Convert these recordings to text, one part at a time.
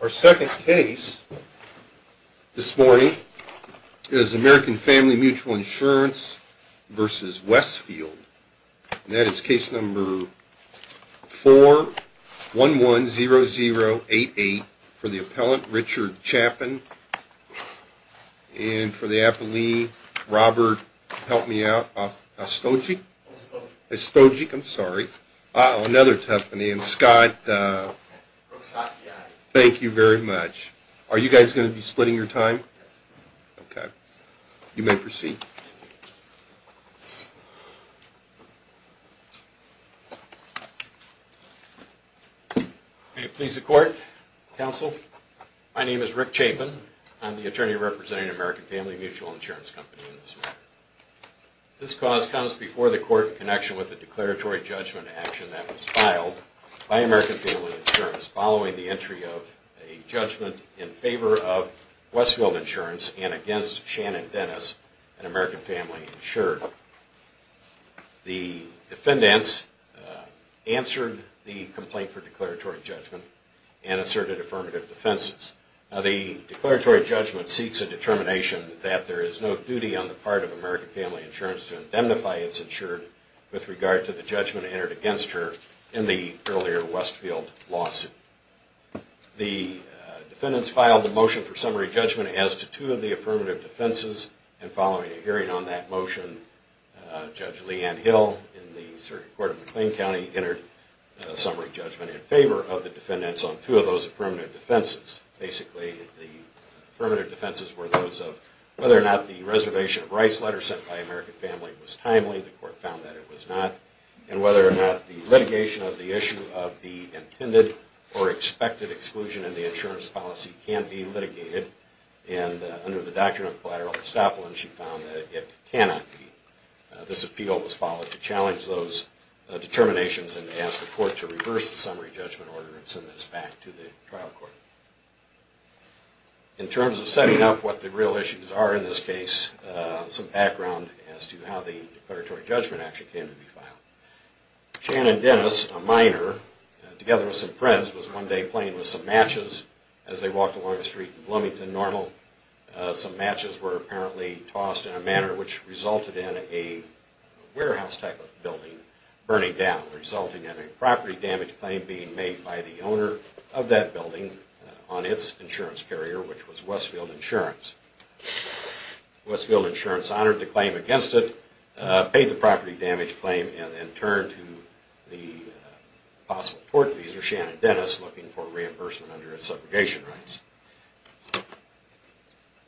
Our second case this morning is American Family Mutual Insurance v. Westfield, and that is case number 4110088 for the appellant Richard Chappin, and for the appellee Robert, help me out, Ostojic? Ostojic. Ostojic. Thank you very much. Are you guys going to be splitting your time? Yes. Okay. You may proceed. Thank you. May it please the court, counsel, my name is Rick Chappin. I'm the attorney representing American Family Mutual Insurance Company in this matter. This cause comes before the court in connection with a declaratory judgment action that was filed by American Family Insurance following the entry of a judgment in favor of Westfield Insurance and against Shannon Dennis and American Family Insurance. The defendants answered the complaint for declaratory judgment and asserted affirmative defenses. The declaratory judgment seeks a determination that there is no duty on the part of American Family Insurance to indemnify its insured with regard to the judgment entered against her in the earlier Westfield lawsuit. The defendants filed a motion for summary judgment as to two of the affirmative defenses, and following a hearing on that motion, Judge Lee Ann Hill in the circuit court of McLean County entered a summary judgment in favor of the defendants on two of those affirmative defenses. Basically, the affirmative defenses were those of whether or not the reservation of rights letter sent by American Family was timely, the court found that it was not, and whether or not the litigation of the issue of the intended or expected exclusion in the insurance policy can be litigated. In terms of setting up what the real issues are in this case, some background as to how the declaratory judgment action came to be filed. Shannon Dennis, a minor, together with some friends, was one day playing with some matches as they walked along the street in Bloomington Street. Some matches were apparently tossed in a manner which resulted in a warehouse type of building burning down, resulting in a property damage claim being made by the owner of that building on its insurance carrier, which was Westfield Insurance. Westfield Insurance honored the claim against it, paid the property damage claim, and then turned to the possible tort liaison, Shannon Dennis, looking for reimbursement under its segregation rights.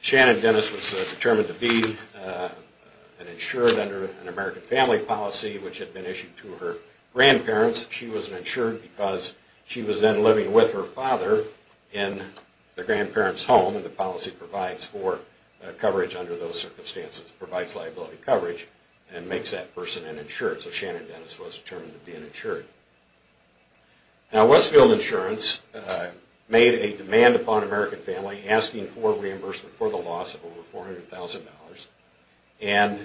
Shannon Dennis was determined to be an insured under an American Family policy which had been issued to her grandparents. She was an insured because she was then living with her father in the grandparents' home, and the policy provides for coverage under those circumstances, provides liability coverage, and makes that person an insured, so Shannon Dennis was determined to be an insured. Now, Westfield Insurance made a demand upon American Family asking for reimbursement for the loss of over $400,000, and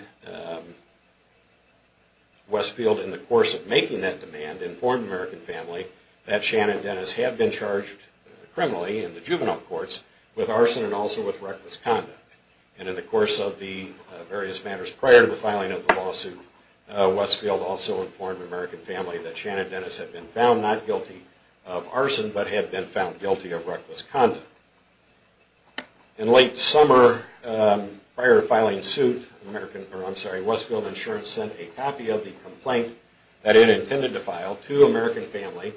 Westfield, in the course of making that demand, informed American Family that Shannon Dennis had been charged criminally in the juvenile courts with arson and also with reckless conduct. And in the course of the various matters prior to the filing of the lawsuit, Westfield also informed American Family that Shannon Dennis had been found not guilty of arson, but had been found guilty of reckless conduct. In late summer, prior to filing suit, Westfield Insurance sent a copy of the complaint that it intended to file to American Family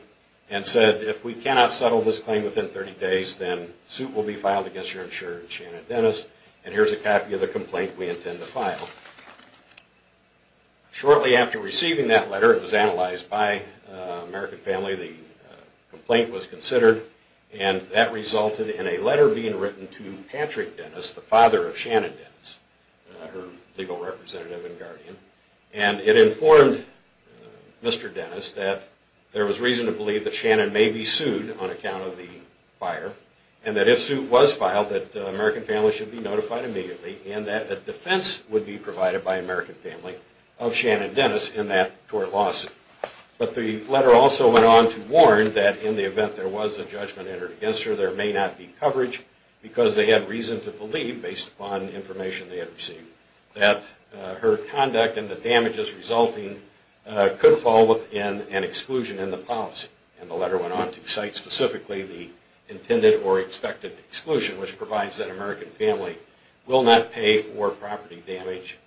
and said, if we cannot settle this claim within 30 days, then suit will be filed against your insurer, Shannon Dennis, and here's a copy of the complaint we intend to file. Shortly after receiving that letter, it was analyzed by American Family, the complaint was considered, and that resulted in a letter being written to Patrick Dennis, the father of Shannon Dennis, her legal representative and guardian, and it informed Mr. Dennis that there was reason to believe that Shannon may be sued on account of the fire, and that if suit was filed, that American Family should be notified immediately, and that a defense would be provided by American Family of Shannon Dennis in that tort lawsuit. But the letter also went on to warn that in the event there was a judgment entered against her, there may not be coverage, because they had reason to believe, based upon information they had received, that her conduct and the damages resulting could fall within an exclusion in the policy. And the letter went on to cite specifically the intended or expected exclusion, which provides that American Family will not pay for property damage,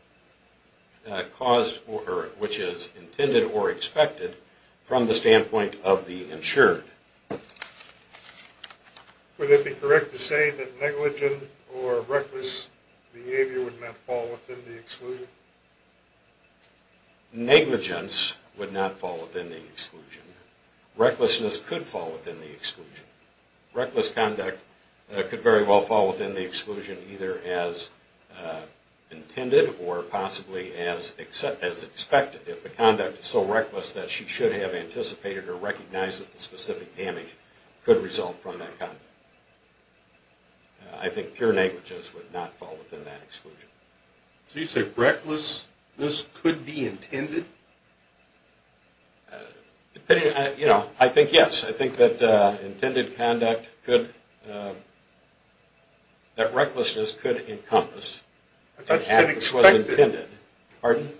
which is intended or expected from the standpoint of the insured. Would it be correct to say that negligent or reckless behavior would not fall within the exclusion? Negligence would not fall within the exclusion. Recklessness could fall within the exclusion. Reckless conduct could very well fall within the exclusion, either as intended or possibly as expected, if the conduct is so reckless that she should have anticipated or recognized that the specific damage could result from that conduct. I think pure negligence would not fall within that exclusion. So you say recklessness could be intended? I think yes. I think that intended conduct could, that recklessness could encompass. I thought you said expected. Pardon?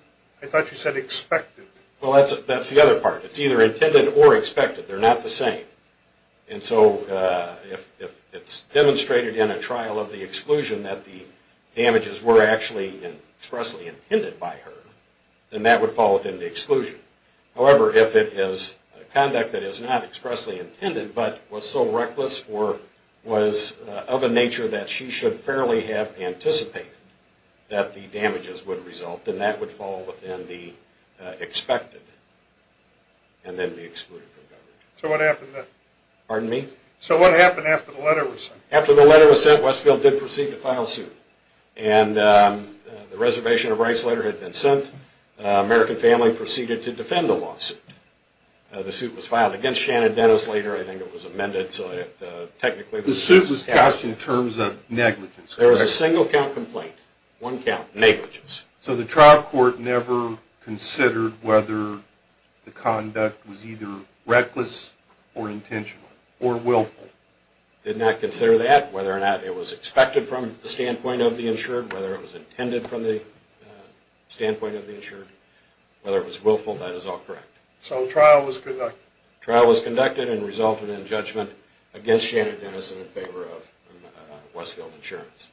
I thought you said expected. Well, that's the other part. It's either intended or expected. They're not the same. And so if it's demonstrated in a trial of the exclusion that the damages were actually expressly intended by her, then that would fall within the exclusion. However, if it is conduct that is not expressly intended but was so reckless or was of a nature that she should fairly have anticipated that the damages would result, then that would fall within the expected and then be excluded from coverage. So what happened then? Pardon me? So what happened after the letter was sent? After the letter was sent, Westfield did proceed to file suit. And the reservation of rights letter had been sent. The American family proceeded to defend the lawsuit. The suit was filed against Shannon Dennis later. I think it was amended. So technically the suit was cast in terms of negligence. There was a single count complaint. One count, negligence. So the trial court never considered whether the conduct was either reckless or intentional or willful? Did not consider that. Whether or not it was expected from the standpoint of the insured, whether it was intended from the standpoint of the insured, whether it was willful, that is all correct. So the trial was conducted. The trial was conducted and resulted in judgment against Shannon Dennis in favor of Westfield Insurance.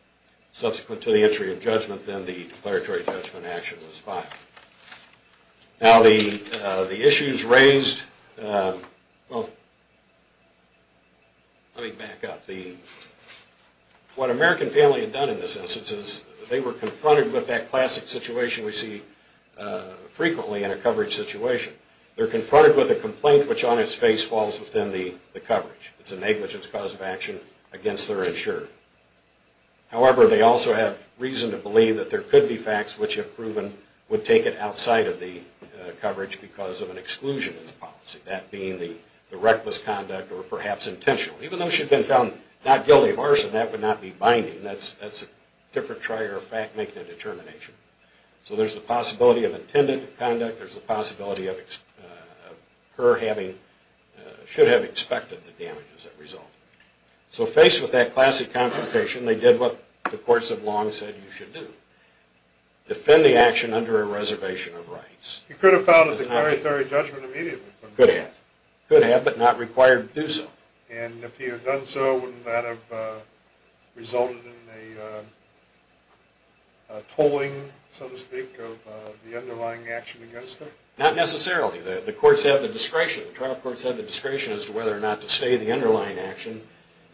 Subsequent to the entry of judgment, then the declaratory judgment action was filed. Now the issues raised, well, let me back up. What American family had done in this instance is they were confronted with that classic situation we see frequently in a coverage situation. They're confronted with a complaint which on its face falls within the coverage. It's a negligence cause of action against their insured. However, they also have reason to believe that there could be facts which have proven would take it outside of the coverage because of an exclusion in the policy. That being the reckless conduct or perhaps intentional. Even though she'd been found not guilty of arson, that would not be binding. That's a different trier of fact making and determination. So there's the possibility of intended conduct. There's the possibility of her having, should have expected the damages that result. So faced with that classic confrontation, they did what the courts have long said you should do. Defend the action under a reservation of rights. You could have filed a declaratory judgment immediately. Could have. Could have but not required to do so. And if you had done so, wouldn't that have resulted in a tolling, so to speak, of the underlying action against her? Not necessarily. The courts have the discretion. The trial courts have the discretion as to whether or not to stay the underlying action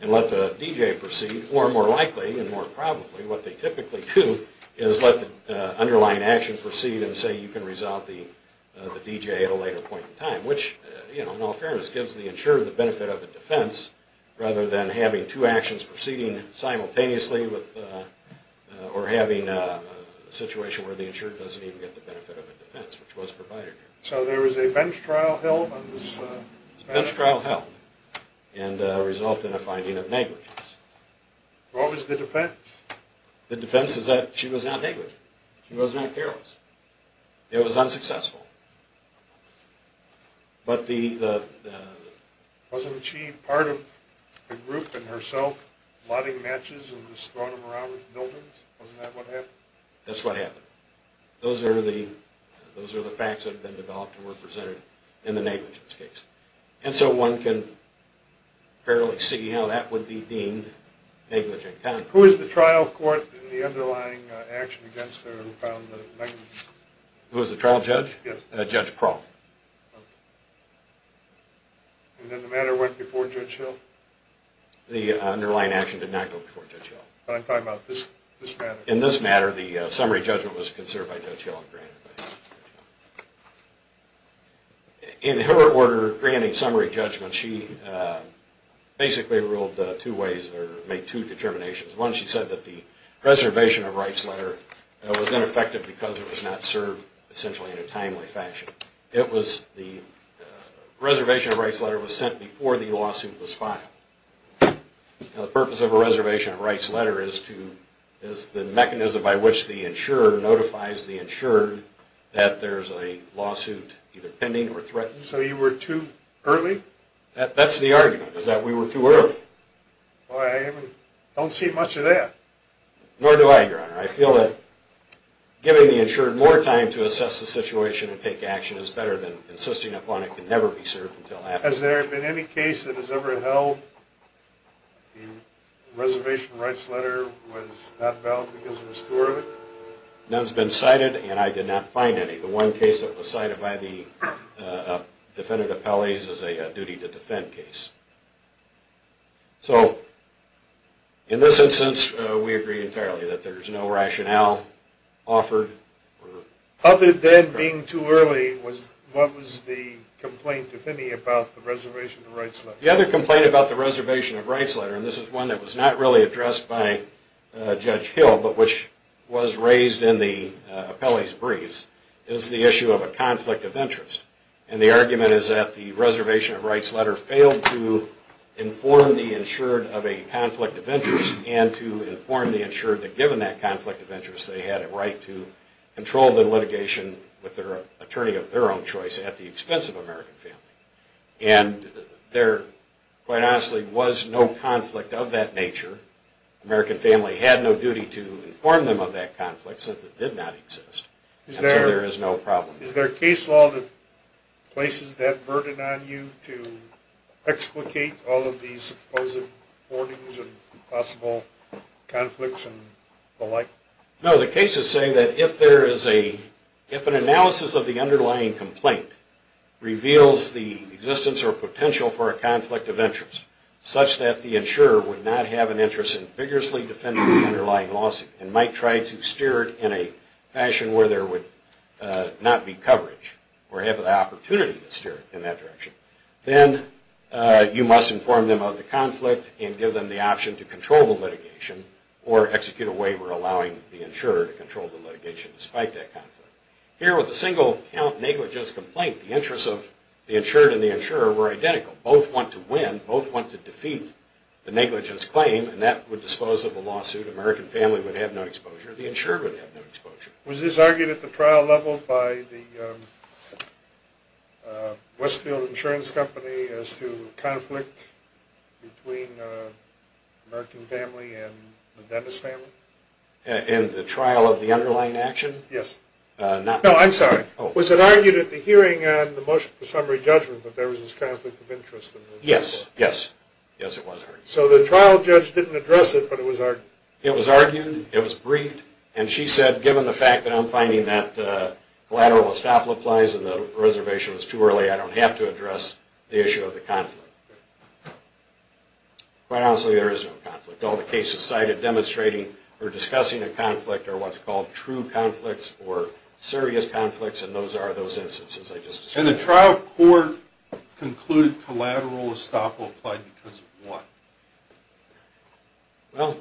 and let the D.J. proceed. Or more likely and more probably, what they typically do is let the underlying action proceed and say you can resolve the D.J. at a later point in time. Which, in all fairness, gives the insured the benefit of a defense rather than having two actions proceeding simultaneously or having a situation where the insured doesn't even get the benefit of a defense, which was provided. So there was a bench trial held? A bench trial held and resulted in a finding of negligence. What was the defense? The defense is that she was not negligent. She was not careless. It was unsuccessful. Wasn't she part of the group in herself, plotting matches and just throwing them around in buildings? Wasn't that what happened? That's what happened. Those are the facts that have been developed and were presented in the negligence case. And so one can fairly see how that would be deemed negligent conduct. Who is the trial court in the underlying action against her who found the negligence? Who is the trial judge? Yes. Judge Kral. Okay. And then the matter went before Judge Hill? The underlying action did not go before Judge Hill. But I'm talking about this matter. In this matter, the summary judgment was considered by Judge Hill. In her order granting summary judgment, she basically ruled two ways or made two determinations. One, she said that the reservation of rights letter was ineffective because it was not served essentially in a timely fashion. The reservation of rights letter was sent before the lawsuit was filed. The purpose of a reservation of rights letter is the mechanism by which the insurer notifies the insured that there's a lawsuit either pending or threatened. So you were too early? That's the argument, is that we were too early. I don't see much of that. Nor do I, Your Honor. I feel that giving the insured more time to assess the situation and take action is better than insisting upon it can never be served until after. Has there been any case that has ever held the reservation of rights letter was not valid because it was too early? None's been cited, and I did not find any. The one case that was cited by the defendant appellees is a duty to defend case. So in this instance, we agree entirely that there's no rationale offered. Other than being too early, what was the complaint, if any, about the reservation of rights letter? The other complaint about the reservation of rights letter, and this is one that was not really addressed by Judge Hill, but which was raised in the appellees' briefs, is the issue of a conflict of interest. And the argument is that the reservation of rights letter failed to inform the insured of a conflict of interest and to inform the insured that given that conflict of interest, they had a right to control the litigation with their attorney of their own choice at the expense of American Family. And there, quite honestly, was no conflict of that nature. American Family had no duty to inform them of that conflict since it did not exist. And so there is no problem. Is there a case law that places that burden on you to explicate all of these supposed hoardings and possible conflicts and the like? No, the case is saying that if an analysis of the underlying complaint reveals the existence or potential for a conflict of interest, such that the insurer would not have an interest in vigorously defending the underlying lawsuit and might try to steer it in a fashion where there would not be coverage or have the opportunity to steer it in that direction, then you must inform them of the conflict and give them the option to control the litigation or execute a waiver allowing the insurer to control the litigation despite that conflict. Here with a single count negligence complaint, the interests of the insured and the insurer were identical. Both want to win. Both want to defeat the negligence claim. And that would dispose of the lawsuit. American Family would have no exposure. The insured would have no exposure. Was this argued at the trial level by the Westfield Insurance Company as to conflict between American Family and the Dennis family? In the trial of the underlying action? Yes. No, I'm sorry. Was it argued at the hearing on the motion for summary judgment that there was this conflict of interest? Yes. Yes. Yes, it was argued. So the trial judge didn't address it, but it was argued? It was argued. It was briefed. And she said, given the fact that I'm finding that collateral will stop applies and the reservation was too early, I don't have to address the issue of the conflict. Quite honestly, there is no conflict. All the cases cited demonstrating or discussing a conflict are what's called true conflicts or serious conflicts, and those are those instances I just described. And the trial court concluded collateral will stop will apply because of what? Well,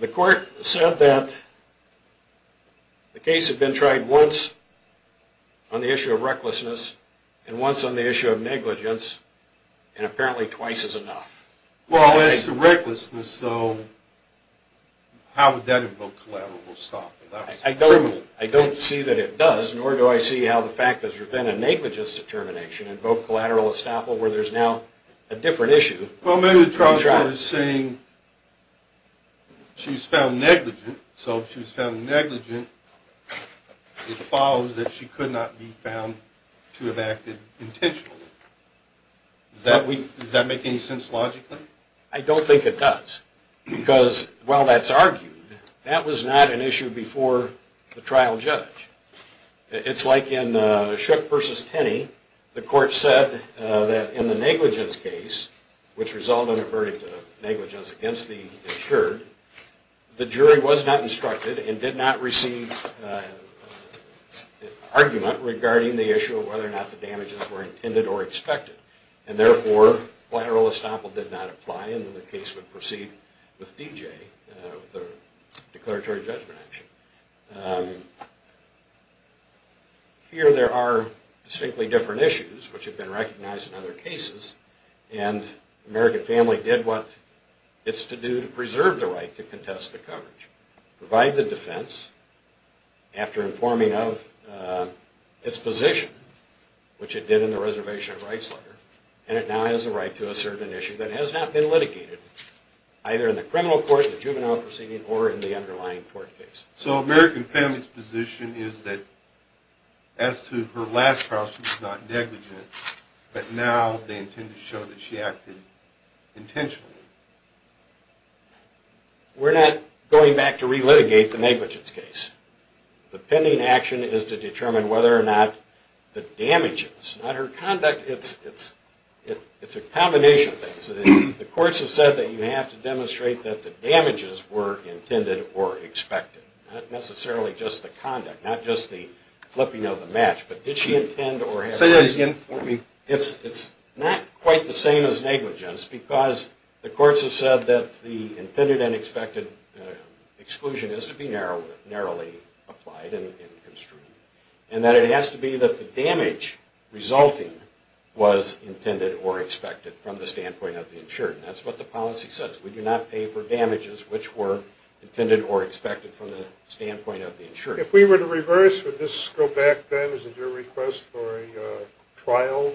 the court said that the case had been tried once on the issue of recklessness and once on the issue of negligence, and apparently twice is enough. Well, as to recklessness, though, how would that invoke collateral will stop? I don't see that it does, nor do I see how the fact that there's been a negligence determination invoked collateral will stop where there's now a different issue. Well, maybe the trial judge is saying she was found negligent, so if she was found negligent, it follows that she could not be found to have acted intentionally. Does that make any sense logically? I don't think it does, because while that's argued, that was not an issue before the trial judge. It's like in Shook v. Tenney, the court said that in the negligence case, which resulted in a verdict of negligence against the insured, the jury was not instructed and did not receive argument regarding the issue of whether or not the damages were intended or expected. And therefore, collateral will stop did not apply and the case would proceed with D.J., the declaratory judgment action. Here there are distinctly different issues, which have been recognized in other cases, and American Family did what it's to do to preserve the right to contest the coverage, provide the defense after informing of its position, which it did in the Reservation of Rights letter, and it now has the right to assert an issue that has not been litigated, either in the criminal court, the juvenile proceeding, or in the underlying court case. So American Family's position is that as to her last trial, she was not negligent, but now they intend to show that she acted intentionally. We're not going back to re-litigate the negligence case. The pending action is to determine whether or not the damages, not her conduct, it's a combination of things. The courts have said that you have to demonstrate that the damages were intended or expected, not necessarily just the conduct, not just the flipping of the match, but did she intend or have... Say that again for me. It's not quite the same as negligence because the courts have said that the intended and expected exclusion is to be narrowly applied and construed, and that it has to be that the damage resulting was intended or expected from the standpoint of the insured. And that's what the policy says. We do not pay for damages which were intended or expected from the standpoint of the insured. If we were to reverse, would this go back then as a due request for a trial?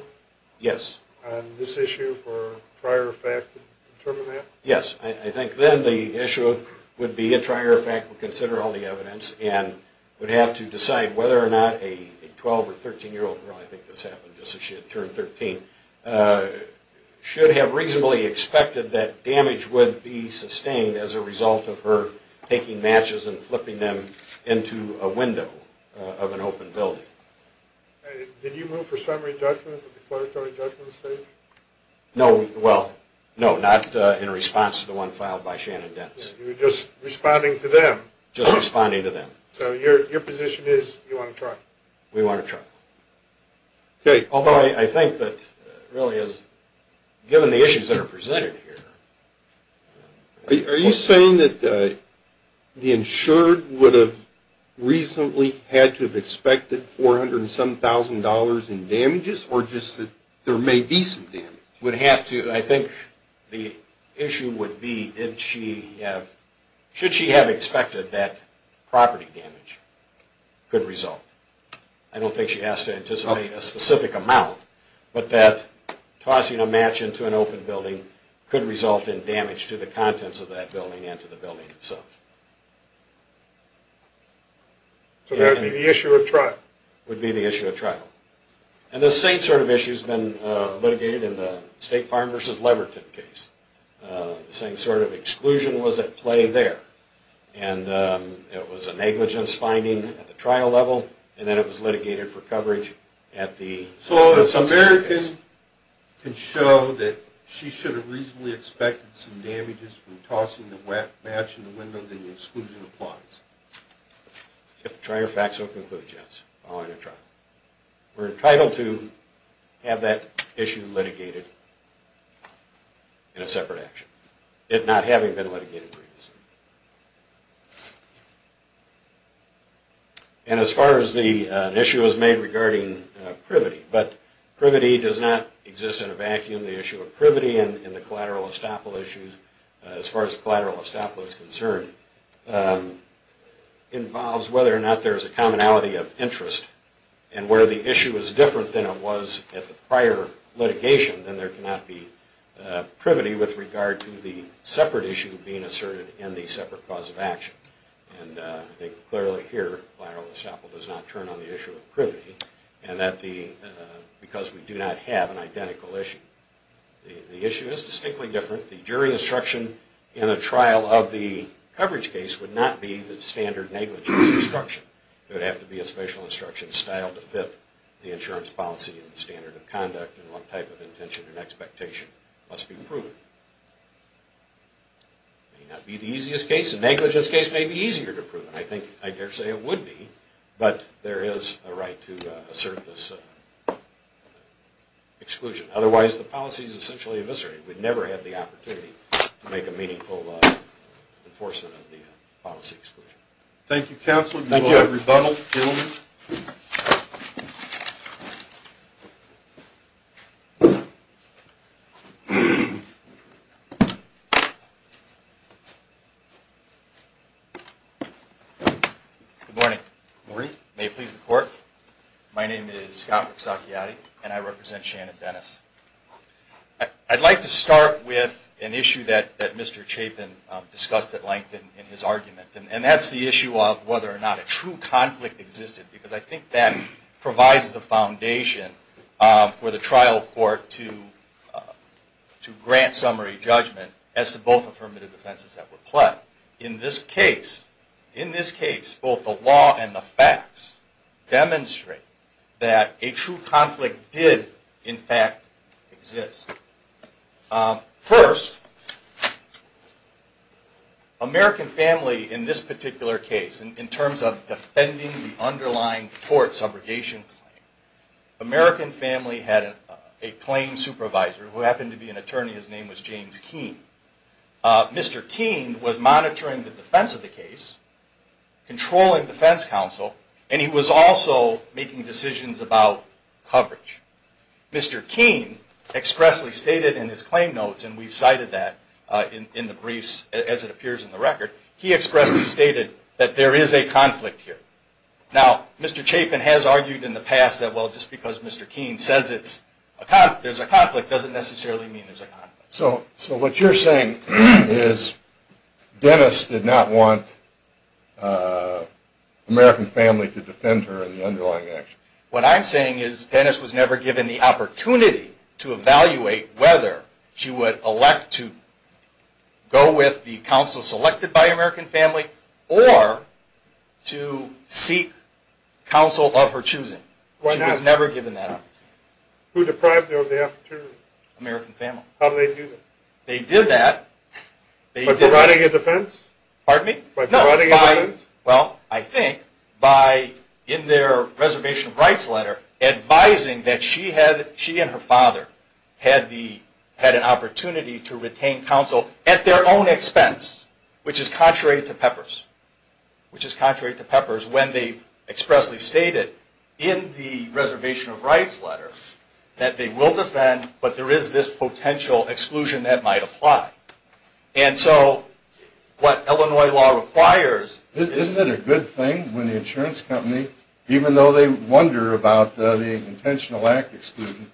Yes. On this issue for prior effect to determine that? Yes. I think then the issue would be a prior effect would consider all the evidence and would have to decide whether or not a 12 or 13-year-old girl, I think this happened just as she had turned 13, should have reasonably expected that damage would be sustained as a result of her taking matches and flipping them into a window of an open building. Did you move for summary judgment at the declaratory judgment stage? No. Well, no, not in response to the one filed by Shannon Dentz. You're just responding to them? Just responding to them. So your position is you want a trial? We want a trial. Although I think that really given the issues that are presented here. Are you saying that the insured would have reasonably had to have expected 400 and some thousand dollars in damages or just that there may be some damage? Would have to. I think the issue would be did she have, should she have expected that property damage could result? I don't think she has to anticipate a specific amount, but that tossing a match into an open building could result in damage to the contents of that building and to the building itself. So that would be the issue of trial? Would be the issue of trial. And the same sort of issue has been litigated in the State Farm versus Leverton case. The same sort of exclusion was at play there. And it was a negligence finding at the trial level, and then it was litigated for coverage at the... So an American can show that she should have reasonably expected some damages from tossing the match in the windows and the exclusion applies? If the trial facts don't conclude, yes, following a trial. We're entitled to have that issue litigated in a separate action, it not having been litigated previously. And as far as the issue was made regarding privity, but privity does not exist in a vacuum. The issue of privity in the collateral estoppel issues, as far as collateral estoppel is concerned, involves whether or not there's a commonality of interest. And where the issue is different than it was at the prior litigation, then there cannot be privity with regard to the separate issue being asserted in the separate cause of action. And I think clearly here, collateral estoppel does not turn on the issue of privity, because we do not have an identical issue. The issue is distinctly different. The jury instruction in a trial of the coverage case would not be the standard negligence instruction. It would have to be a special instruction style to fit the insurance policy and standard of conduct and what type of intention and expectation must be proven. It may not be the easiest case. A negligence case may be easier to prove. I daresay it would be, but there is a right to assert this exclusion. Otherwise, the policy is essentially eviscerated. We'd never have the opportunity to make a meaningful enforcement of the policy exclusion. Thank you, Counselor. We will rebundle. Good morning. May it please the Court. My name is Scott Rizzocchiati, and I represent Shannon Dennis. I'd like to start with an issue that Mr. Chapin discussed at length in his argument, and that's the issue of whether or not a true conflict against the law can be resolved. I think that provides the foundation for the trial court to grant summary judgment as to both affirmative defenses that were pledged. In this case, both the law and the facts demonstrate that a true conflict did, in fact, exist. First, American family in this particular case, in terms of defending the unlawful use of the law, had an underlying tort subrogation claim. American family had a claim supervisor who happened to be an attorney. His name was James Keene. Mr. Keene was monitoring the defense of the case, controlling defense counsel, and he was also making decisions about coverage. Mr. Keene expressly stated in his claim notes, and we've cited that in the briefs as it appears in the record, he expressly stated that there is a conflict here. Now, Mr. Chapin has argued in the past that, well, just because Mr. Keene says there's a conflict doesn't necessarily mean there's a conflict. So what you're saying is Dennis did not want American family to defend her in the underlying action? What I'm saying is Dennis was never given the opportunity to evaluate whether she would elect to go with the counsel selected by American family, or to seek counsel of her choosing. She was never given that opportunity. Who deprived her of the opportunity? American family. How did they do that? They did that. By providing a defense? Pardon me? By providing a defense? Well, I think by, in their reservation of rights letter, advising that she and her father had an opportunity to retain counsel at their own expense, which is contrary to Peppers. Which is contrary to Peppers when they expressly stated in the reservation of rights letter that they will defend, but there is this potential exclusion that might apply. And so, what Illinois law requires... Isn't it a good thing when the insurance company, even though they wonder about the intentional act exclusion,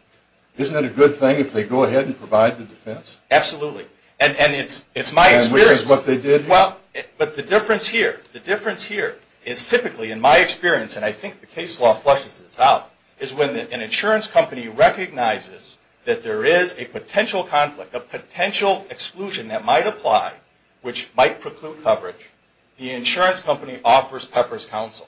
isn't it a good thing if they go ahead and provide the defense? Absolutely. And it's my experience... And which is what they did? Well, but the difference here, the difference here is typically in my experience, and I think the case law fleshes this out, is when an insurance company recognizes that there is a potential conflict, a potential exclusion that might apply, which might preclude coverage, the insurance company offers Peppers counsel.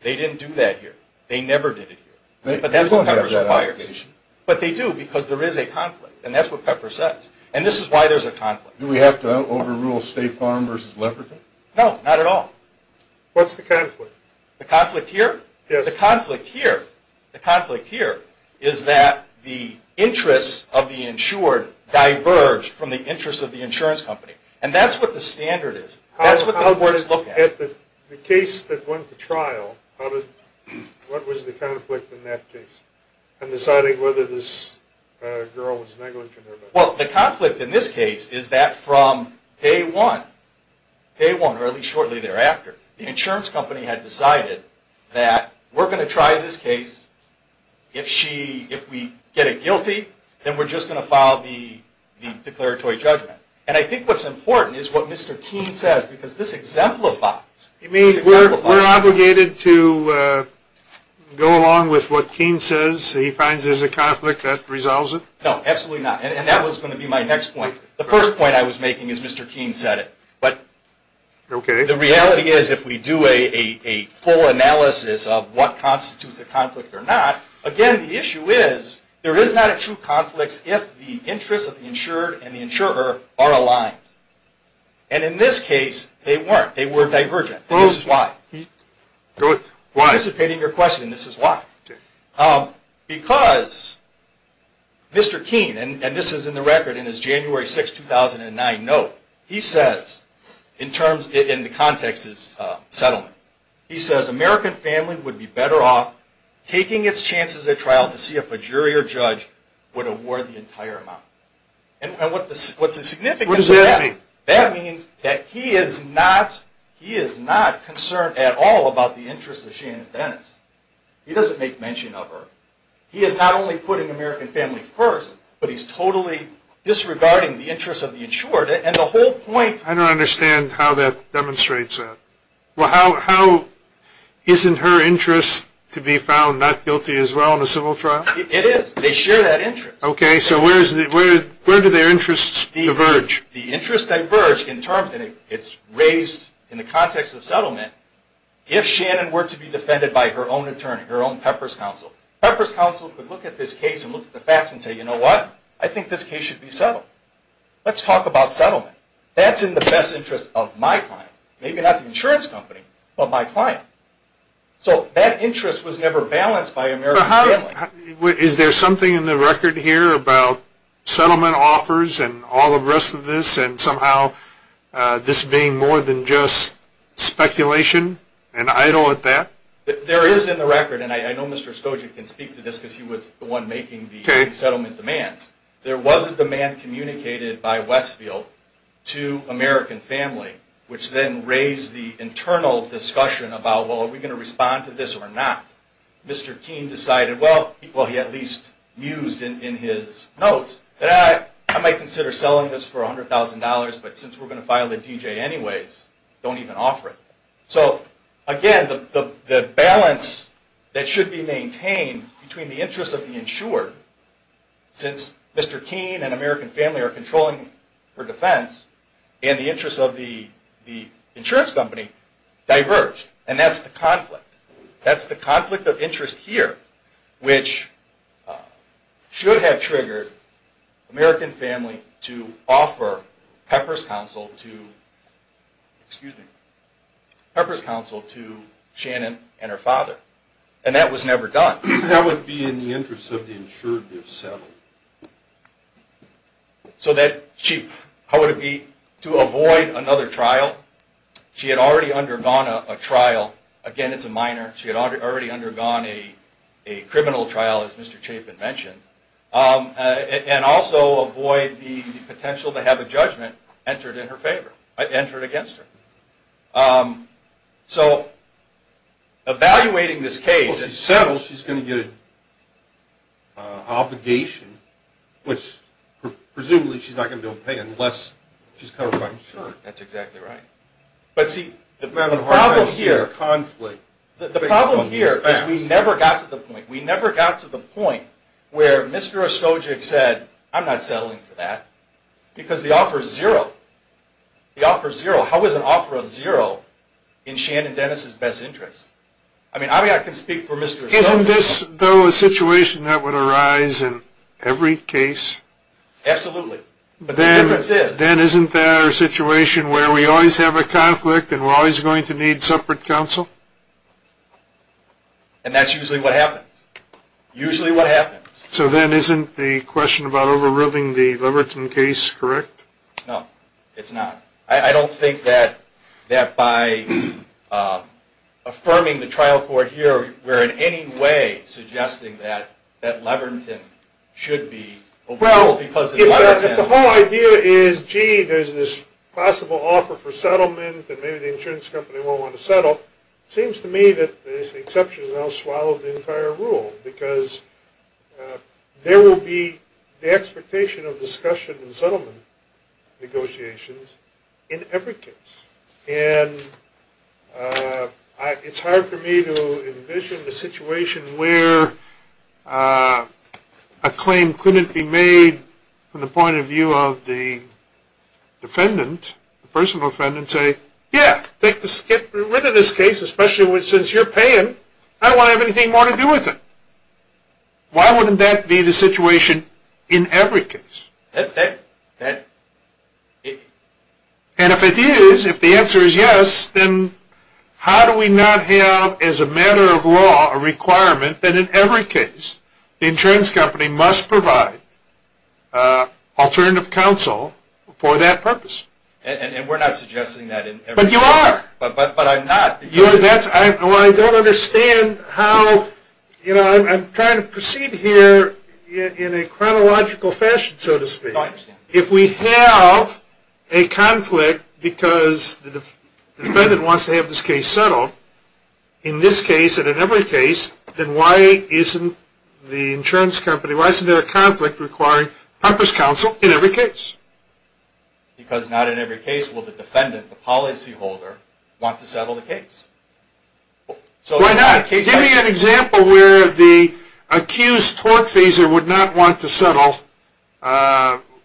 They didn't do that here. They never did it here. But that's what Peppers requires. They don't have that obligation. But they do, because there is a conflict. And that's what Peppers says. And this is why there's a conflict. Do we have to overrule State Farm versus Leprechaun? No, not at all. What's the conflict? The conflict here? Yes. The conflict here, the conflict here is that the interests of the insured diverge from the interests of the insurance company. And that's what the standard is. That's what the courts look at. The case that went to trial, what was the conflict in that case in deciding whether this girl was negligent or not? Well, the conflict in this case is that from day one, or at least shortly thereafter, the insurance company had decided that we're going to try this case. If we get it guilty, then we're just going to file the declaratory judgment. And I think what's important is what Mr. Keene says, because this exemplifies. You mean we're obligated to go along with what Keene says? He finds there's a conflict that resolves it? No, absolutely not. And that was going to be my next point. The first point I was making is Mr. Keene said it. But the reality is if we do a full analysis of what constitutes a conflict or not, again, the issue is there is not a true conflict if the interests of the insured and the insurer are aligned. And in this case, they weren't. They were divergent. And this is why. Why? I'm anticipating your question. This is why. Because Mr. Keene, and this is in the record in his January 6, 2009 note, he says, in the context of his settlement, he says, American family would be better off taking its chances at trial to see if a jury or judge would award the entire amount. And what does that mean? That means that he is not concerned at all about the interests of Shannon Dennis. He doesn't make mention of her. He is not only putting American family first, but he's totally disregarding the interests of the insured. And the whole point… I don't understand how that demonstrates that. Well, isn't her interest to be found not guilty as well in a civil trial? It is. They share that interest. Okay, so where do their interests diverge? The interests diverge in terms… and it's raised in the context of settlement. If Shannon were to be defended by her own attorney, her own Pepper's counsel, Pepper's counsel could look at this case and look at the facts and say, you know what? I think this case should be settled. Let's talk about settlement. That's in the best interest of my client. Maybe not the insurance company, but my client. So that interest was never balanced by American family. Is there something in the record here about settlement offers and all the rest of this and somehow this being more than just speculation and idle at that? There is in the record, and I know Mr. Skoczyk can speak to this because he was the one making the settlement demands. There was a demand communicated by Westfield to American family, which then raised the internal discussion about, well, are we going to respond to this or not? Mr. Keene decided, well, he at least mused in his notes, that I might consider selling this for $100,000, but since we're going to file a D.J. anyways, don't even offer it. So again, the balance that should be maintained between the interests of the insured, since Mr. Keene and American family are controlling her defense, and the interests of the insurance company diverged. And that's the conflict. That's the conflict of interest here, which should have triggered American family to offer Pepper's counsel to Shannon and her father. And that was never done. That would be in the interest of the insured if settled. So that, chief, how would it be to avoid another trial? She had already undergone a trial. Again, it's a minor. She had already undergone a criminal trial, as Mr. Chapin mentioned. And also avoid the potential to have a judgment entered in her favor, entered against her. So evaluating this case... Well, if she's settled, she's going to get an obligation, which presumably she's not going to be able to pay unless she's covered by insurance. That's exactly right. But see, the problem here is we never got to the point where Mr. Ostojik said, I'm not settling for that, because the offer is zero. The offer is zero. How is an offer of zero in Shannon Dennis' best interest? I mean, I can speak for Mr. Ostojik. Isn't this, though, a situation that would arise in every case? Absolutely. But the difference is... If we have a conflict and we're always going to need separate counsel? And that's usually what happens. Usually what happens. So then isn't the question about overruling the Leverton case correct? No, it's not. I don't think that by affirming the trial court here, we're in any way suggesting that Leverton should be overruled because of Leverton. If the whole idea is, gee, there's this possible offer for settlement, and maybe the insurance company won't want to settle, it seems to me that there's the exception that I'll swallow the entire rule, because there will be the expectation of discussion and settlement negotiations in every case. And it's hard for me to envision the situation where a claim couldn't be made from the point of view of the defendant, the personal defendant, and say, yeah, get rid of this case, especially since you're paying. I don't want to have anything more to do with it. Why wouldn't that be the situation in every case? And if it is, if the answer is yes, then how do we not have, as a matter of law, a requirement that in every case, the insurance company must provide alternative counsel for that purpose? And we're not suggesting that in every case. But you are. But I'm not. Well, I don't understand how, you know, I'm trying to proceed here in a chronological fashion, so to speak. If we have a conflict because the defendant wants to have this case settled, in this case and in every case, then why isn't the insurance company, why isn't there a conflict requiring purpose counsel in every case? Because not in every case will the defendant, the policyholder, want to settle the case. Why not? Give me an example where the accused tortfeasor would not want to settle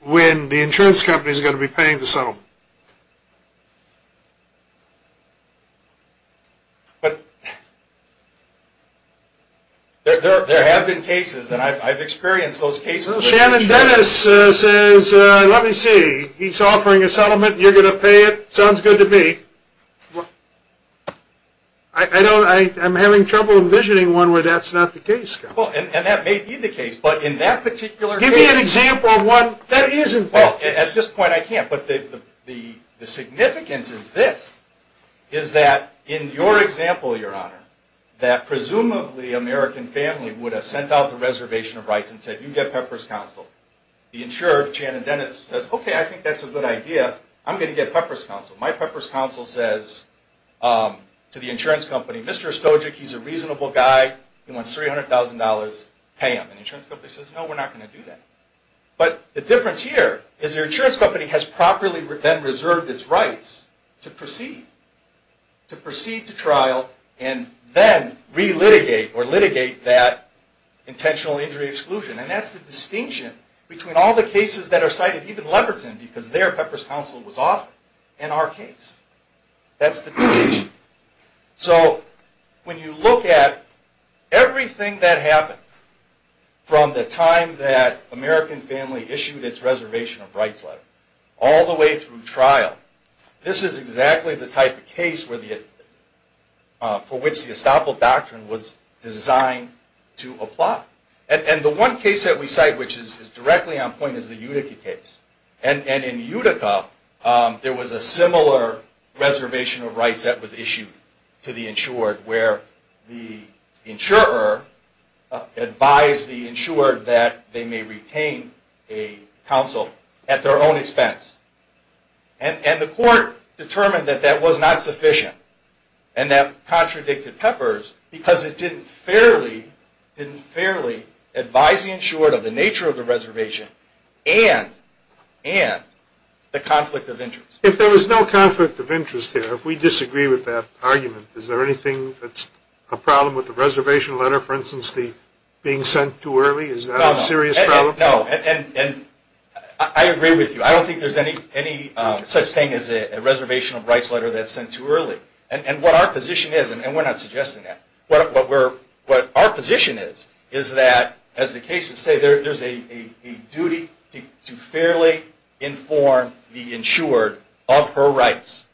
when the insurance company is going to be paying to settle. But there have been cases, and I've experienced those cases. Well, Shannon Dennis says, let me see, he's offering a settlement, you're going to pay it, sounds good to me. I'm having trouble envisioning one where that's not the case. Well, and that may be the case, but in that particular case. Give me an example of one that isn't the case. Well, at this point I can't, but the significance is this, is that in your example, Your Honor, that presumably American family would have sent out the reservation of rights and said, you get purpose counsel. The insurer, Shannon Dennis, says, okay, I think that's a good idea, I'm going to get purpose counsel. My purpose counsel says to the insurance company, Mr. Stojic, he's a reasonable guy, he wants $300,000, pay him. And the insurance company says, no, we're not going to do that. But the difference here is the insurance company has properly then reserved its rights to proceed, to proceed to trial, and then re-litigate or litigate that intentional injury exclusion. And that's the distinction between all the cases that are cited, even Leverton, because there purpose counsel was offered in our case. That's the distinction. So, when you look at everything that happened from the time that American family issued its reservation of rights letter, all the way through trial, this is exactly the type of case for which the estoppel doctrine was designed to apply. And the one case that we cite which is directly on point is the Utica case. And in Utica, there was a similar reservation of rights that was issued to the insured, where the insurer advised the insured that they may retain a counsel at their own expense. And the court determined that that was not sufficient. And that contradicted Peppers because it didn't fairly advise the insured of the nature of the reservation and the conflict of interest. If we disagree with that argument, is there anything that's a problem with the reservation letter, for instance, being sent too early? Is that a serious problem? No. And I agree with you. I don't think there's any such thing as a reservation of rights letter that's sent too early. And what our position is, and we're not suggesting that, what our position is, is that, as the cases say, there's a duty to fairly inform the insured of her rights.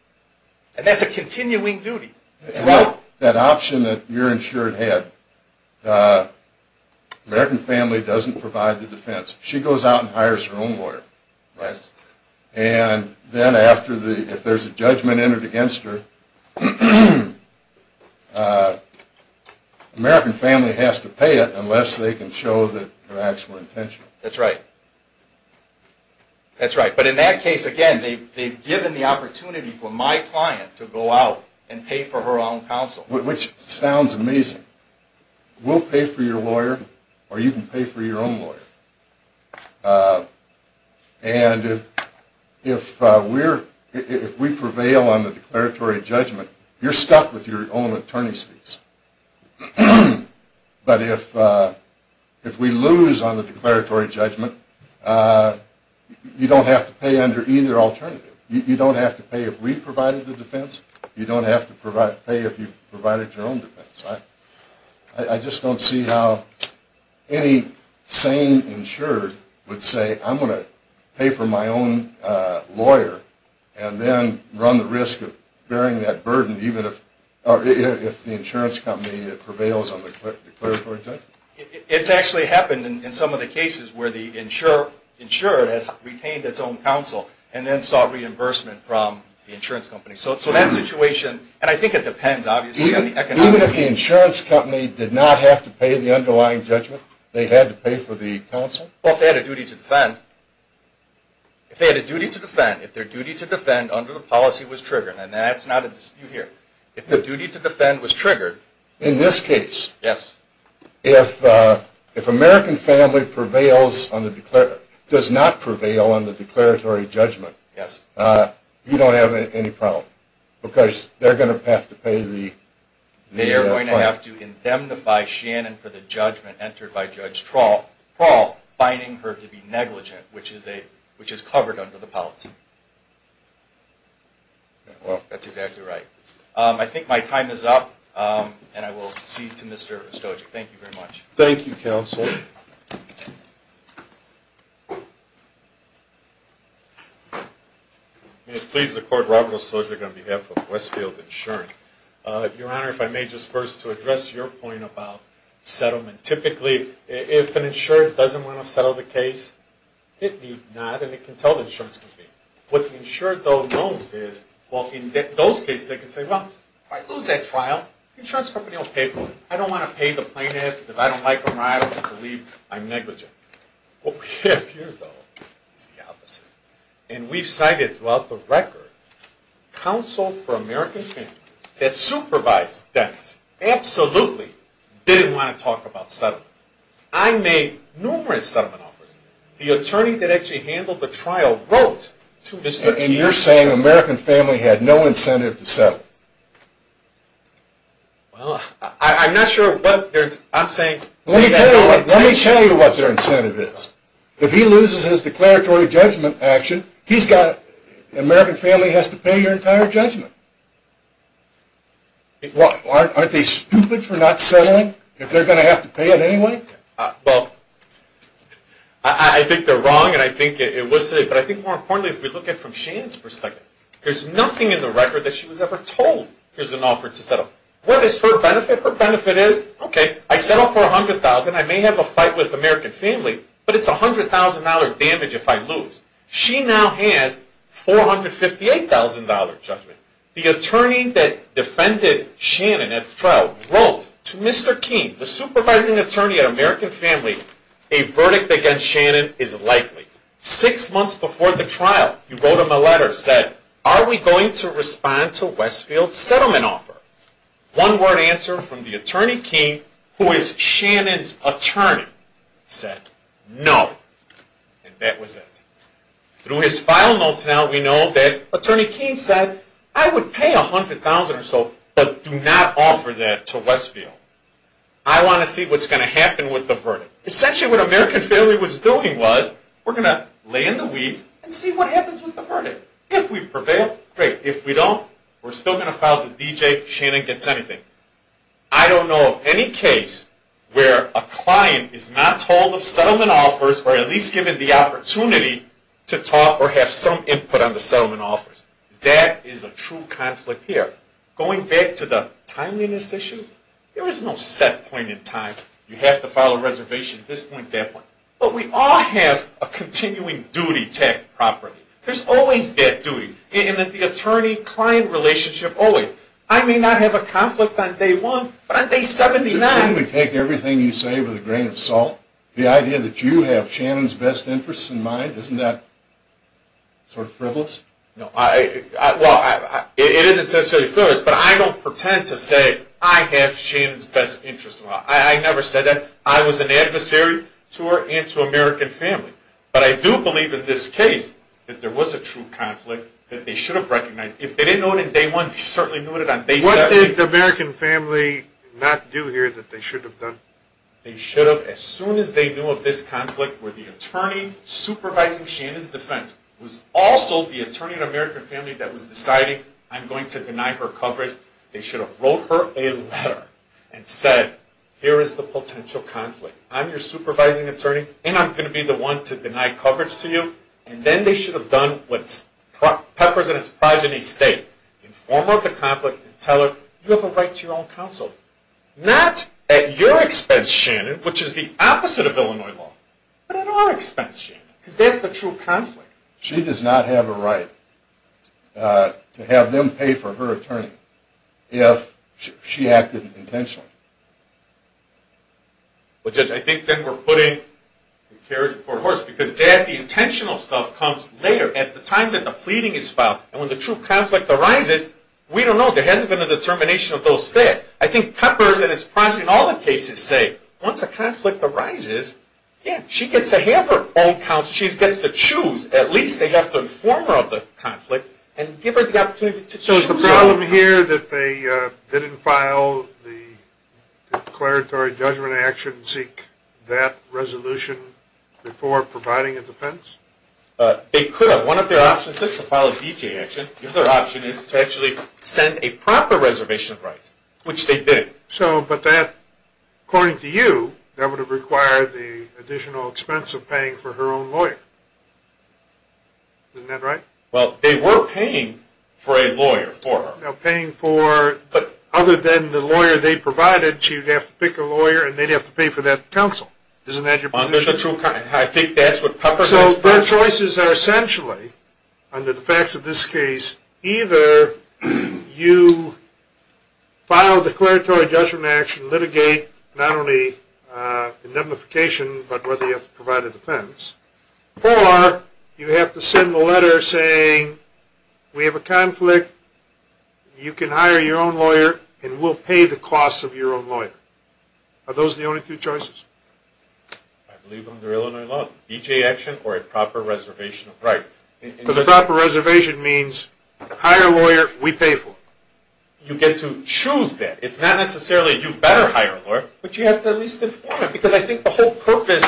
And that's a continuing duty. That option that you're insured had, the American family doesn't provide the defense. She goes out and hires her own lawyer. Right. And then if there's a judgment entered against her, the American family has to pay it unless they can show their actual intention. That's right. That's right. But in that case, again, they've given the opportunity for my client to go out and pay for her own counsel. Which sounds amazing. We'll pay for your lawyer, or you can pay for your own lawyer. And if we prevail on the declaratory judgment, you're stuck with your own attorney's fees. But if we lose on the declaratory judgment, you don't have to pay under either alternative. You don't have to pay if we provided the defense. You don't have to pay if you provided your own defense. I just don't see how any sane insured would say, I'm going to pay for my own lawyer and then run the risk of bearing that burden even if the insurance company prevails on the declaratory judgment. It's actually happened in some of the cases where the insured has retained its own counsel and then sought reimbursement from the insurance company. So that situation, and I think it depends, obviously, on the economics. Even if the insurance company did not have to pay the underlying judgment, they had to pay for the counsel? Well, if they had a duty to defend. If they had a duty to defend. If their duty to defend under the policy was triggered. And that's not a dispute here. If their duty to defend was triggered. In this case? Yes. If American Family does not prevail on the declaratory judgment, you don't have any problem. Because they're going to have to pay the... They're going to have to indemnify Shannon for the judgment entered by Judge Trawl, finding her to be negligent, which is covered under the policy. That's exactly right. I think my time is up, and I will cede to Mr. Ostojic. Thank you very much. Thank you, counsel. Thank you. May it please the Court, Robert Ostojic on behalf of Westfield Insurance. Your Honor, if I may just first to address your point about settlement. Typically, if an insurer doesn't want to settle the case, it need not, and it can tell the insurance company. What the insurer, though, knows is, well, in those cases, they can say, well, if I lose that trial, the insurance company will pay for it. I don't want to pay the plaintiff because I don't like them, or I don't believe I'm negligent. What we have here, though, is the opposite. And we've cited throughout the record, counsel for American Family that supervised Dennis absolutely didn't want to talk about settlement. I made numerous settlement offers. The attorney that actually handled the trial wrote to Mr. Kier... And you're saying American Family had no incentive to settle? Well, I'm not sure what... I'm saying... Let me tell you what their incentive is. If he loses his declaratory judgment action, he's got... American Family has to pay your entire judgment. Aren't they stupid for not settling if they're going to have to pay it anyway? Well, I think they're wrong, and I think it was said. But I think more importantly, if we look at it from Shannon's perspective, there's nothing in the record that she was ever told there's an offer to settle. What is her benefit? Her benefit is, okay, I settle for $100,000. I may have a fight with American Family, but it's $100,000 damage if I lose. She now has $458,000 judgment. The attorney that defended Shannon at the trial wrote to Mr. Kier, the supervising attorney at American Family, a verdict against Shannon is likely. Six months before the trial, you wrote him a letter and said, are we going to respond to Westfield's settlement offer? One word answer from the attorney, Kier, who is Shannon's attorney, said no. And that was it. Through his file notes now, we know that attorney Kier said, I would pay $100,000 or so, but do not offer that to Westfield. I want to see what's going to happen with the verdict. So essentially what American Family was doing was, we're going to lay in the weeds and see what happens with the verdict. If we prevail, great. If we don't, we're still going to file the D.J. Shannon gets anything. I don't know of any case where a client is not told of settlement offers or at least given the opportunity to talk or have some input on the settlement offers. That is a true conflict here. Going back to the timeliness issue, there is no set point in time. You have to file a reservation at this point, that point. But we all have a continuing duty to act properly. There's always that duty. In the attorney-client relationship, always. I may not have a conflict on day one, but on day 79. Can we take everything you say with a grain of salt? The idea that you have Shannon's best interests in mind, isn't that sort of frivolous? No. Well, it isn't necessarily frivolous, but I don't pretend to say I have Shannon's best interests in mind. I never said that. I was an adversary to her and to American family. But I do believe in this case that there was a true conflict that they should have recognized. If they didn't know it on day one, they certainly knew it on day 70. What did the American family not do here that they should have done? They should have, as soon as they knew of this conflict, where the attorney supervising Shannon's defense was also the attorney in American family that was deciding, I'm going to deny her coverage, they should have wrote her a letter and said, here is the potential conflict. I'm your supervising attorney, and I'm going to be the one to deny coverage to you. And then they should have done what Peppers and his progeny state. Inform her of the conflict and tell her, you have a right to your own counsel. Not at your expense, Shannon, which is the opposite of Illinois law. But at our expense, Shannon. Because that's the true conflict. She does not have a right to have them pay for her attorney if she acted intentionally. Well, Judge, I think that we're putting the carriage before the horse because, Dad, the intentional stuff comes later, at the time that the pleading is filed. And when the true conflict arises, we don't know. There hasn't been a determination of those facts. I think Peppers and his progeny in all the cases say, once a conflict arises, she gets to have her own counsel. She gets to choose. At least they have to inform her of the conflict and give her the opportunity to choose. So is the problem here that they didn't file the declaratory judgment action and seek that resolution before providing a defense? They could have. One of their options is to file a D.J. action. Another option is to actually send a proper reservation of rights, which they did. So, but that, according to you, that would have required the additional expense of paying for her own lawyer. Isn't that right? Well, they were paying for a lawyer for her. Now, paying for, but other than the lawyer they provided, she would have to pick a lawyer and they'd have to pay for that counsel. Isn't that your position? Under the true conflict, I think that's what Peppers and his progeny said. So their choices are essentially, under the facts of this case, either you file a declaratory judgment action, litigate not only indemnification, but whether you have to provide a defense, or you have to send a letter saying we have a conflict, you can hire your own lawyer, and we'll pay the costs of your own lawyer. Are those the only two choices? I believe under Illinois law, D.J. action or a proper reservation of rights. Because a proper reservation means hire a lawyer, we pay for it. You get to choose that. It's not necessarily you better hire a lawyer, but you have to at least inform him. Because I think the whole purpose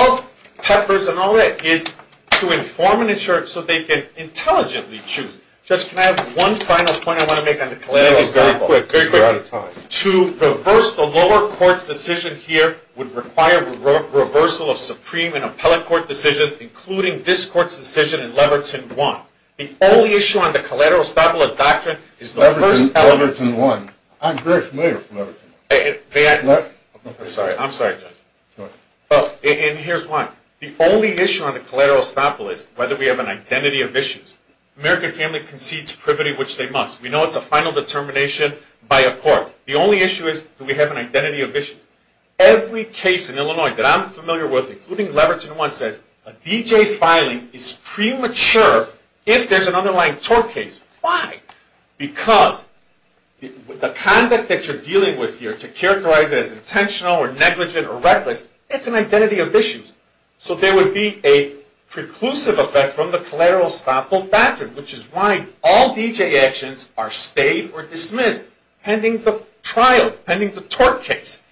of Peppers and all that is to inform and ensure so they can intelligently choose. Judge, can I have one final point I want to make on the collaborative example? Very quick, because we're out of time. To reverse the lower court's decision here would require reversal of supreme and appellate court decisions, including this court's decision in Leverton 1. The only issue on the collateral estoppel is whether we have an identity of issues. The American family concedes privity, which they must. We know it's a final determination by a court. The only issue is do we have an identity of issues. Every case in Illinois that I'm familiar with, including Leverton 1, says a D.J. filing is premature if there's an underlying tort case. Why? Because the conduct that you're dealing with here to characterize it as intentional or negligent or reckless, it's an identity of issues. So there would be a preclusive effect from the collateral estoppel factor, which is why all D.J. actions are stayed or dismissed pending the trial, pending the tort case.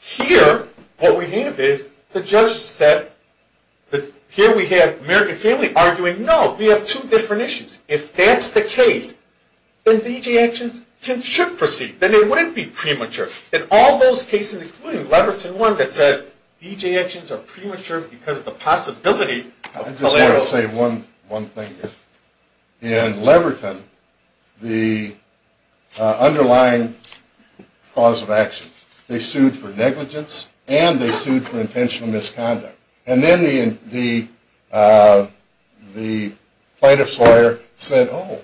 Here, what we have is the judge said that here we have the American family arguing, no, we have two different issues. If that's the case, then D.J. actions should proceed. Then they wouldn't be premature. In all those cases, including Leverton 1, that says D.J. actions are premature because of the possibility of collateral. I just want to say one thing here. In Leverton, the underlying cause of action, they sued for negligence and they sued for intentional misconduct. And then the plaintiff's lawyer said, oh,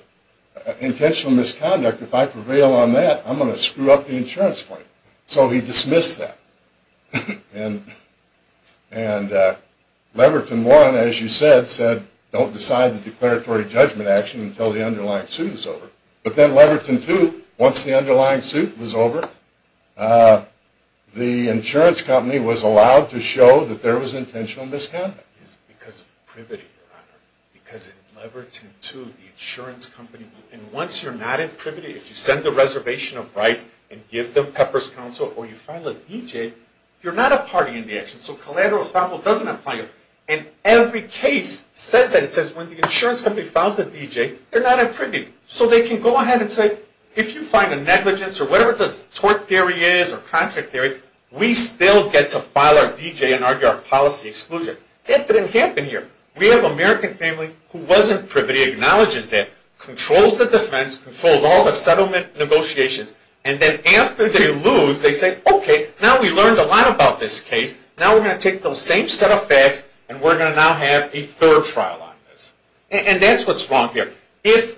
intentional misconduct, if I prevail on that, I'm going to screw up the insurance claim. So he dismissed that. And Leverton 1, as you said, said don't decide the declaratory judgment action until the underlying suit is over. But then Leverton 2, once the underlying suit was over, the insurance company was allowed to show that there was intentional misconduct. It's because of privity, Your Honor. Because in Leverton 2, the insurance company, and once you're not in privity, if you send a reservation of rights and give them pepper's counsel or you file a D.J., you're not a party in the action. So collateral estoppel doesn't apply. And every case says that. It says when the insurance company files the D.J., they're not in privity. So they can go ahead and say, if you find a negligence or whatever the tort theory is or contract theory, we still get to file our D.J. and argue our policy exclusion. That didn't happen here. We have an American family who wasn't privity, acknowledges that, controls the defense, controls all the settlement negotiations. And then after they lose, they say, okay, now we learned a lot about this case. Now we're going to take those same set of facts and we're going to now have a thorough trial on this. And that's what's wrong here. If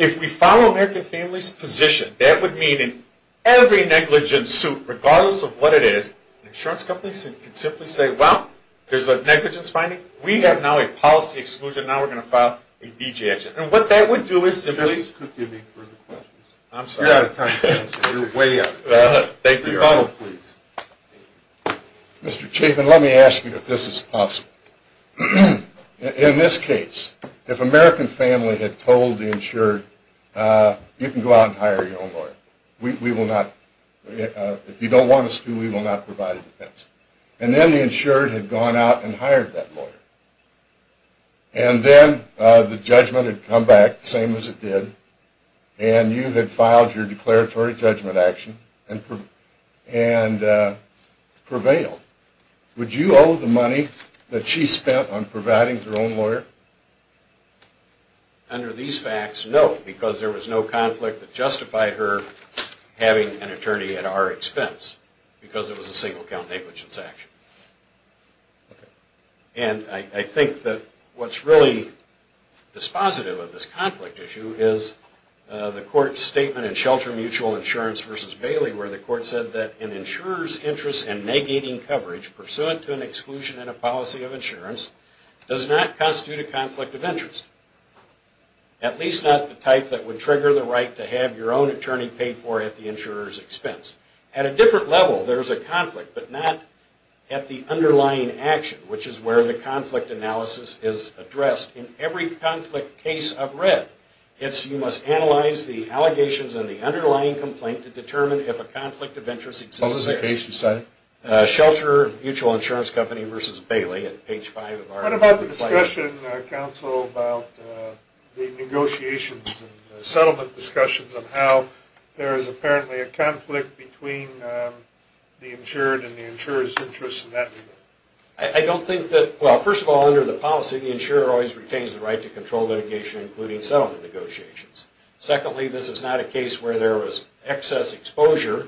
we follow American families' position, that would mean in every negligence suit, regardless of what it is, an insurance company can simply say, well, there's a negligence finding. We have now a policy exclusion. Now we're going to file a D.J. action. And what that would do is simply – Justice could give me further questions. I'm sorry. You're out of time. You're way up. Thank you. Please. Mr. Chapin, let me ask you if this is possible. In this case, if American family had told the insured, you can go out and hire your own lawyer. We will not – if you don't want us to, we will not provide a defense. And then the insured had gone out and hired that lawyer. And then the judgment had come back, the same as it did, and you had filed your declaratory judgment action and prevailed. Would you owe the money that she spent on providing her own lawyer? Under these facts, no, because there was no conflict that justified her having an attorney at our expense, because it was a single count negligence action. And I think that what's really dispositive of this conflict issue is the court's statement in Shelter Mutual Insurance v. Bailey where the court said that an insurer's interest in negating coverage pursuant to an exclusion in a policy of insurance does not constitute a conflict of interest, at least not the type that would trigger the right to have your own attorney paid for at the insurer's expense. At a different level, there's a conflict, but not at the underlying action, which is where the conflict analysis is addressed. In every conflict case I've read, you must analyze the allegations in the underlying complaint to determine if a conflict of interest exists there. What was the case you cited? Shelter Mutual Insurance Company v. Bailey at page 5 of our complaint. What about the discussion, counsel, about the negotiations and settlement discussions of how there is apparently a conflict between the insured and the insurer's interest in that? I don't think that – well, first of all, under the policy, the insurer always retains the right to control litigation, including settlement negotiations. Secondly, this is not a case where there was excess exposure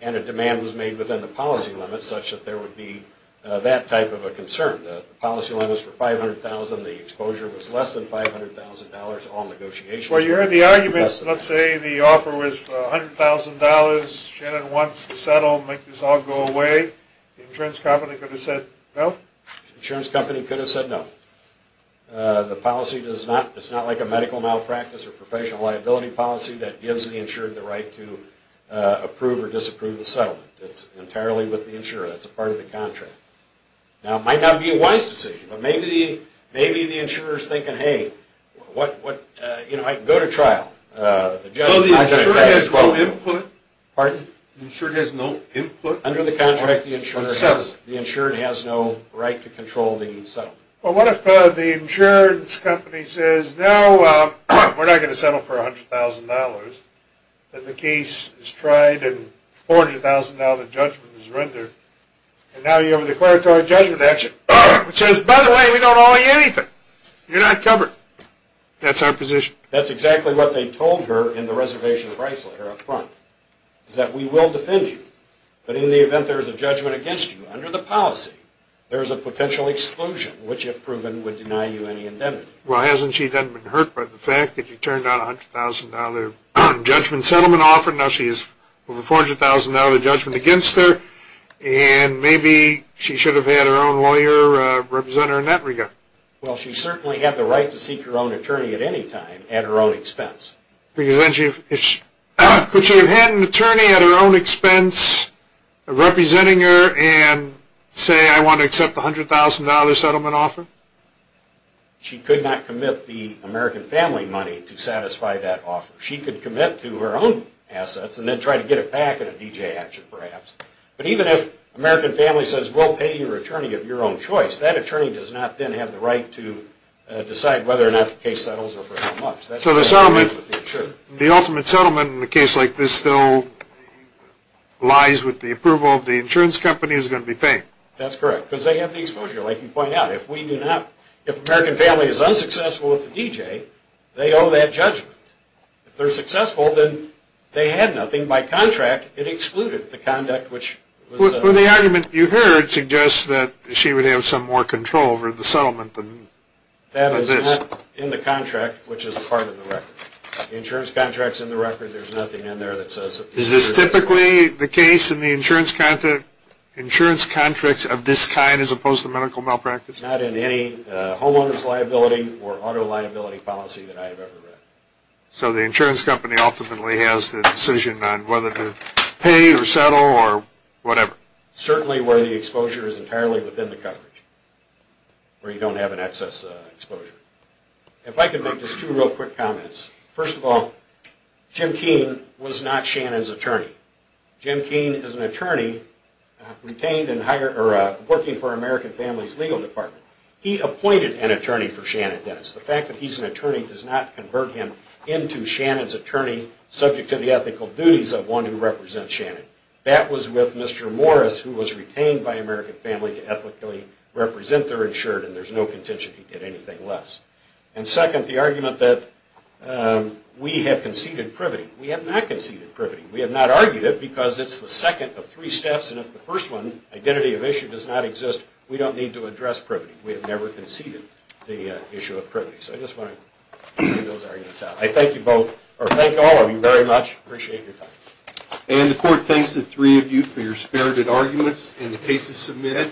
and a demand was made within the policy limit such that there would be that type of a concern. The policy limit was for $500,000. The exposure was less than $500,000. All negotiations – Well, you heard the argument. Let's say the offer was $100,000. Shannon wants to settle, make this all go away. The insurance company could have said no? The insurance company could have said no. The policy does not – it's not like a medical malpractice or professional liability policy that gives the insured the right to approve or disapprove the settlement. It's entirely with the insurer. That's a part of the contract. Now, it might not be a wise decision, but maybe the insurer is thinking, hey, I can go to trial. So the insured has no input? Pardon? The insured has no input? Under the contract, the insured has no right to control the settlement. Well, what if the insurance company says, no, we're not going to settle for $100,000, and the case is tried and $400,000 of judgment is rendered, and now you have a declaratory judgment action, which says, by the way, we don't owe you anything. You're not covered. That's our position. That's exactly what they told her in the reservation price letter up front, is that we will defend you, but in the event there is a judgment against you under the policy, there is a potential exclusion, which, if proven, would deny you any indemnity. Well, hasn't she then been hurt by the fact that you turned down a $100,000 judgment settlement offer? Now she has over $400,000 of judgment against her, and maybe she should have had her own lawyer represent her in that regard. Well, she certainly had the right to seek her own attorney at any time, at her own expense. Because then she could have had an attorney at her own expense representing her and say, I want to accept the $100,000 settlement offer. She could not commit the American Family money to satisfy that offer. She could commit to her own assets and then try to get it back in a D.J. action, perhaps. But even if American Family says, we'll pay your attorney of your own choice, that attorney does not then have the right to decide whether or not the case settles or for how much. So the ultimate settlement in a case like this still lies with the approval of the insurance company who's going to be paying. That's correct, because they have the exposure. Like you point out, if we do not, if American Family is unsuccessful with the D.J., they owe that judgment. If they're successful, then they had nothing. By contract, it excluded the conduct which was set up. Well, the argument you heard suggests that she would have some more control over the settlement than this. That is not in the contract, which is a part of the record. There's nothing in there that says it's not in the record. Is this typically the case in the insurance contracts of this kind as opposed to medical malpractice? Not in any homeowner's liability or auto liability policy that I have ever read. So the insurance company ultimately has the decision on whether to pay or settle or whatever. Certainly where the exposure is entirely within the coverage, where you don't have an excess exposure. If I could make just two real quick comments. First of all, Jim Keene was not Shannon's attorney. Jim Keene is an attorney working for American Family's legal department. He appointed an attorney for Shannon Dennis. The fact that he's an attorney does not convert him into Shannon's attorney subject to the ethical duties of one who represents Shannon. That was with Mr. Morris, who was retained by American Family to ethically represent their insured, and there's no contention he did anything less. And second, the argument that we have conceded privity. We have not conceded privity. We have not argued it because it's the second of three steps, and if the first one, identity of issue, does not exist, we don't need to address privity. We have never conceded the issue of privity. So I just want to clear those arguments out. I thank you both, or thank all of you very much. I appreciate your time. And the court thanks the three of you for your spirited arguments and the cases submitted.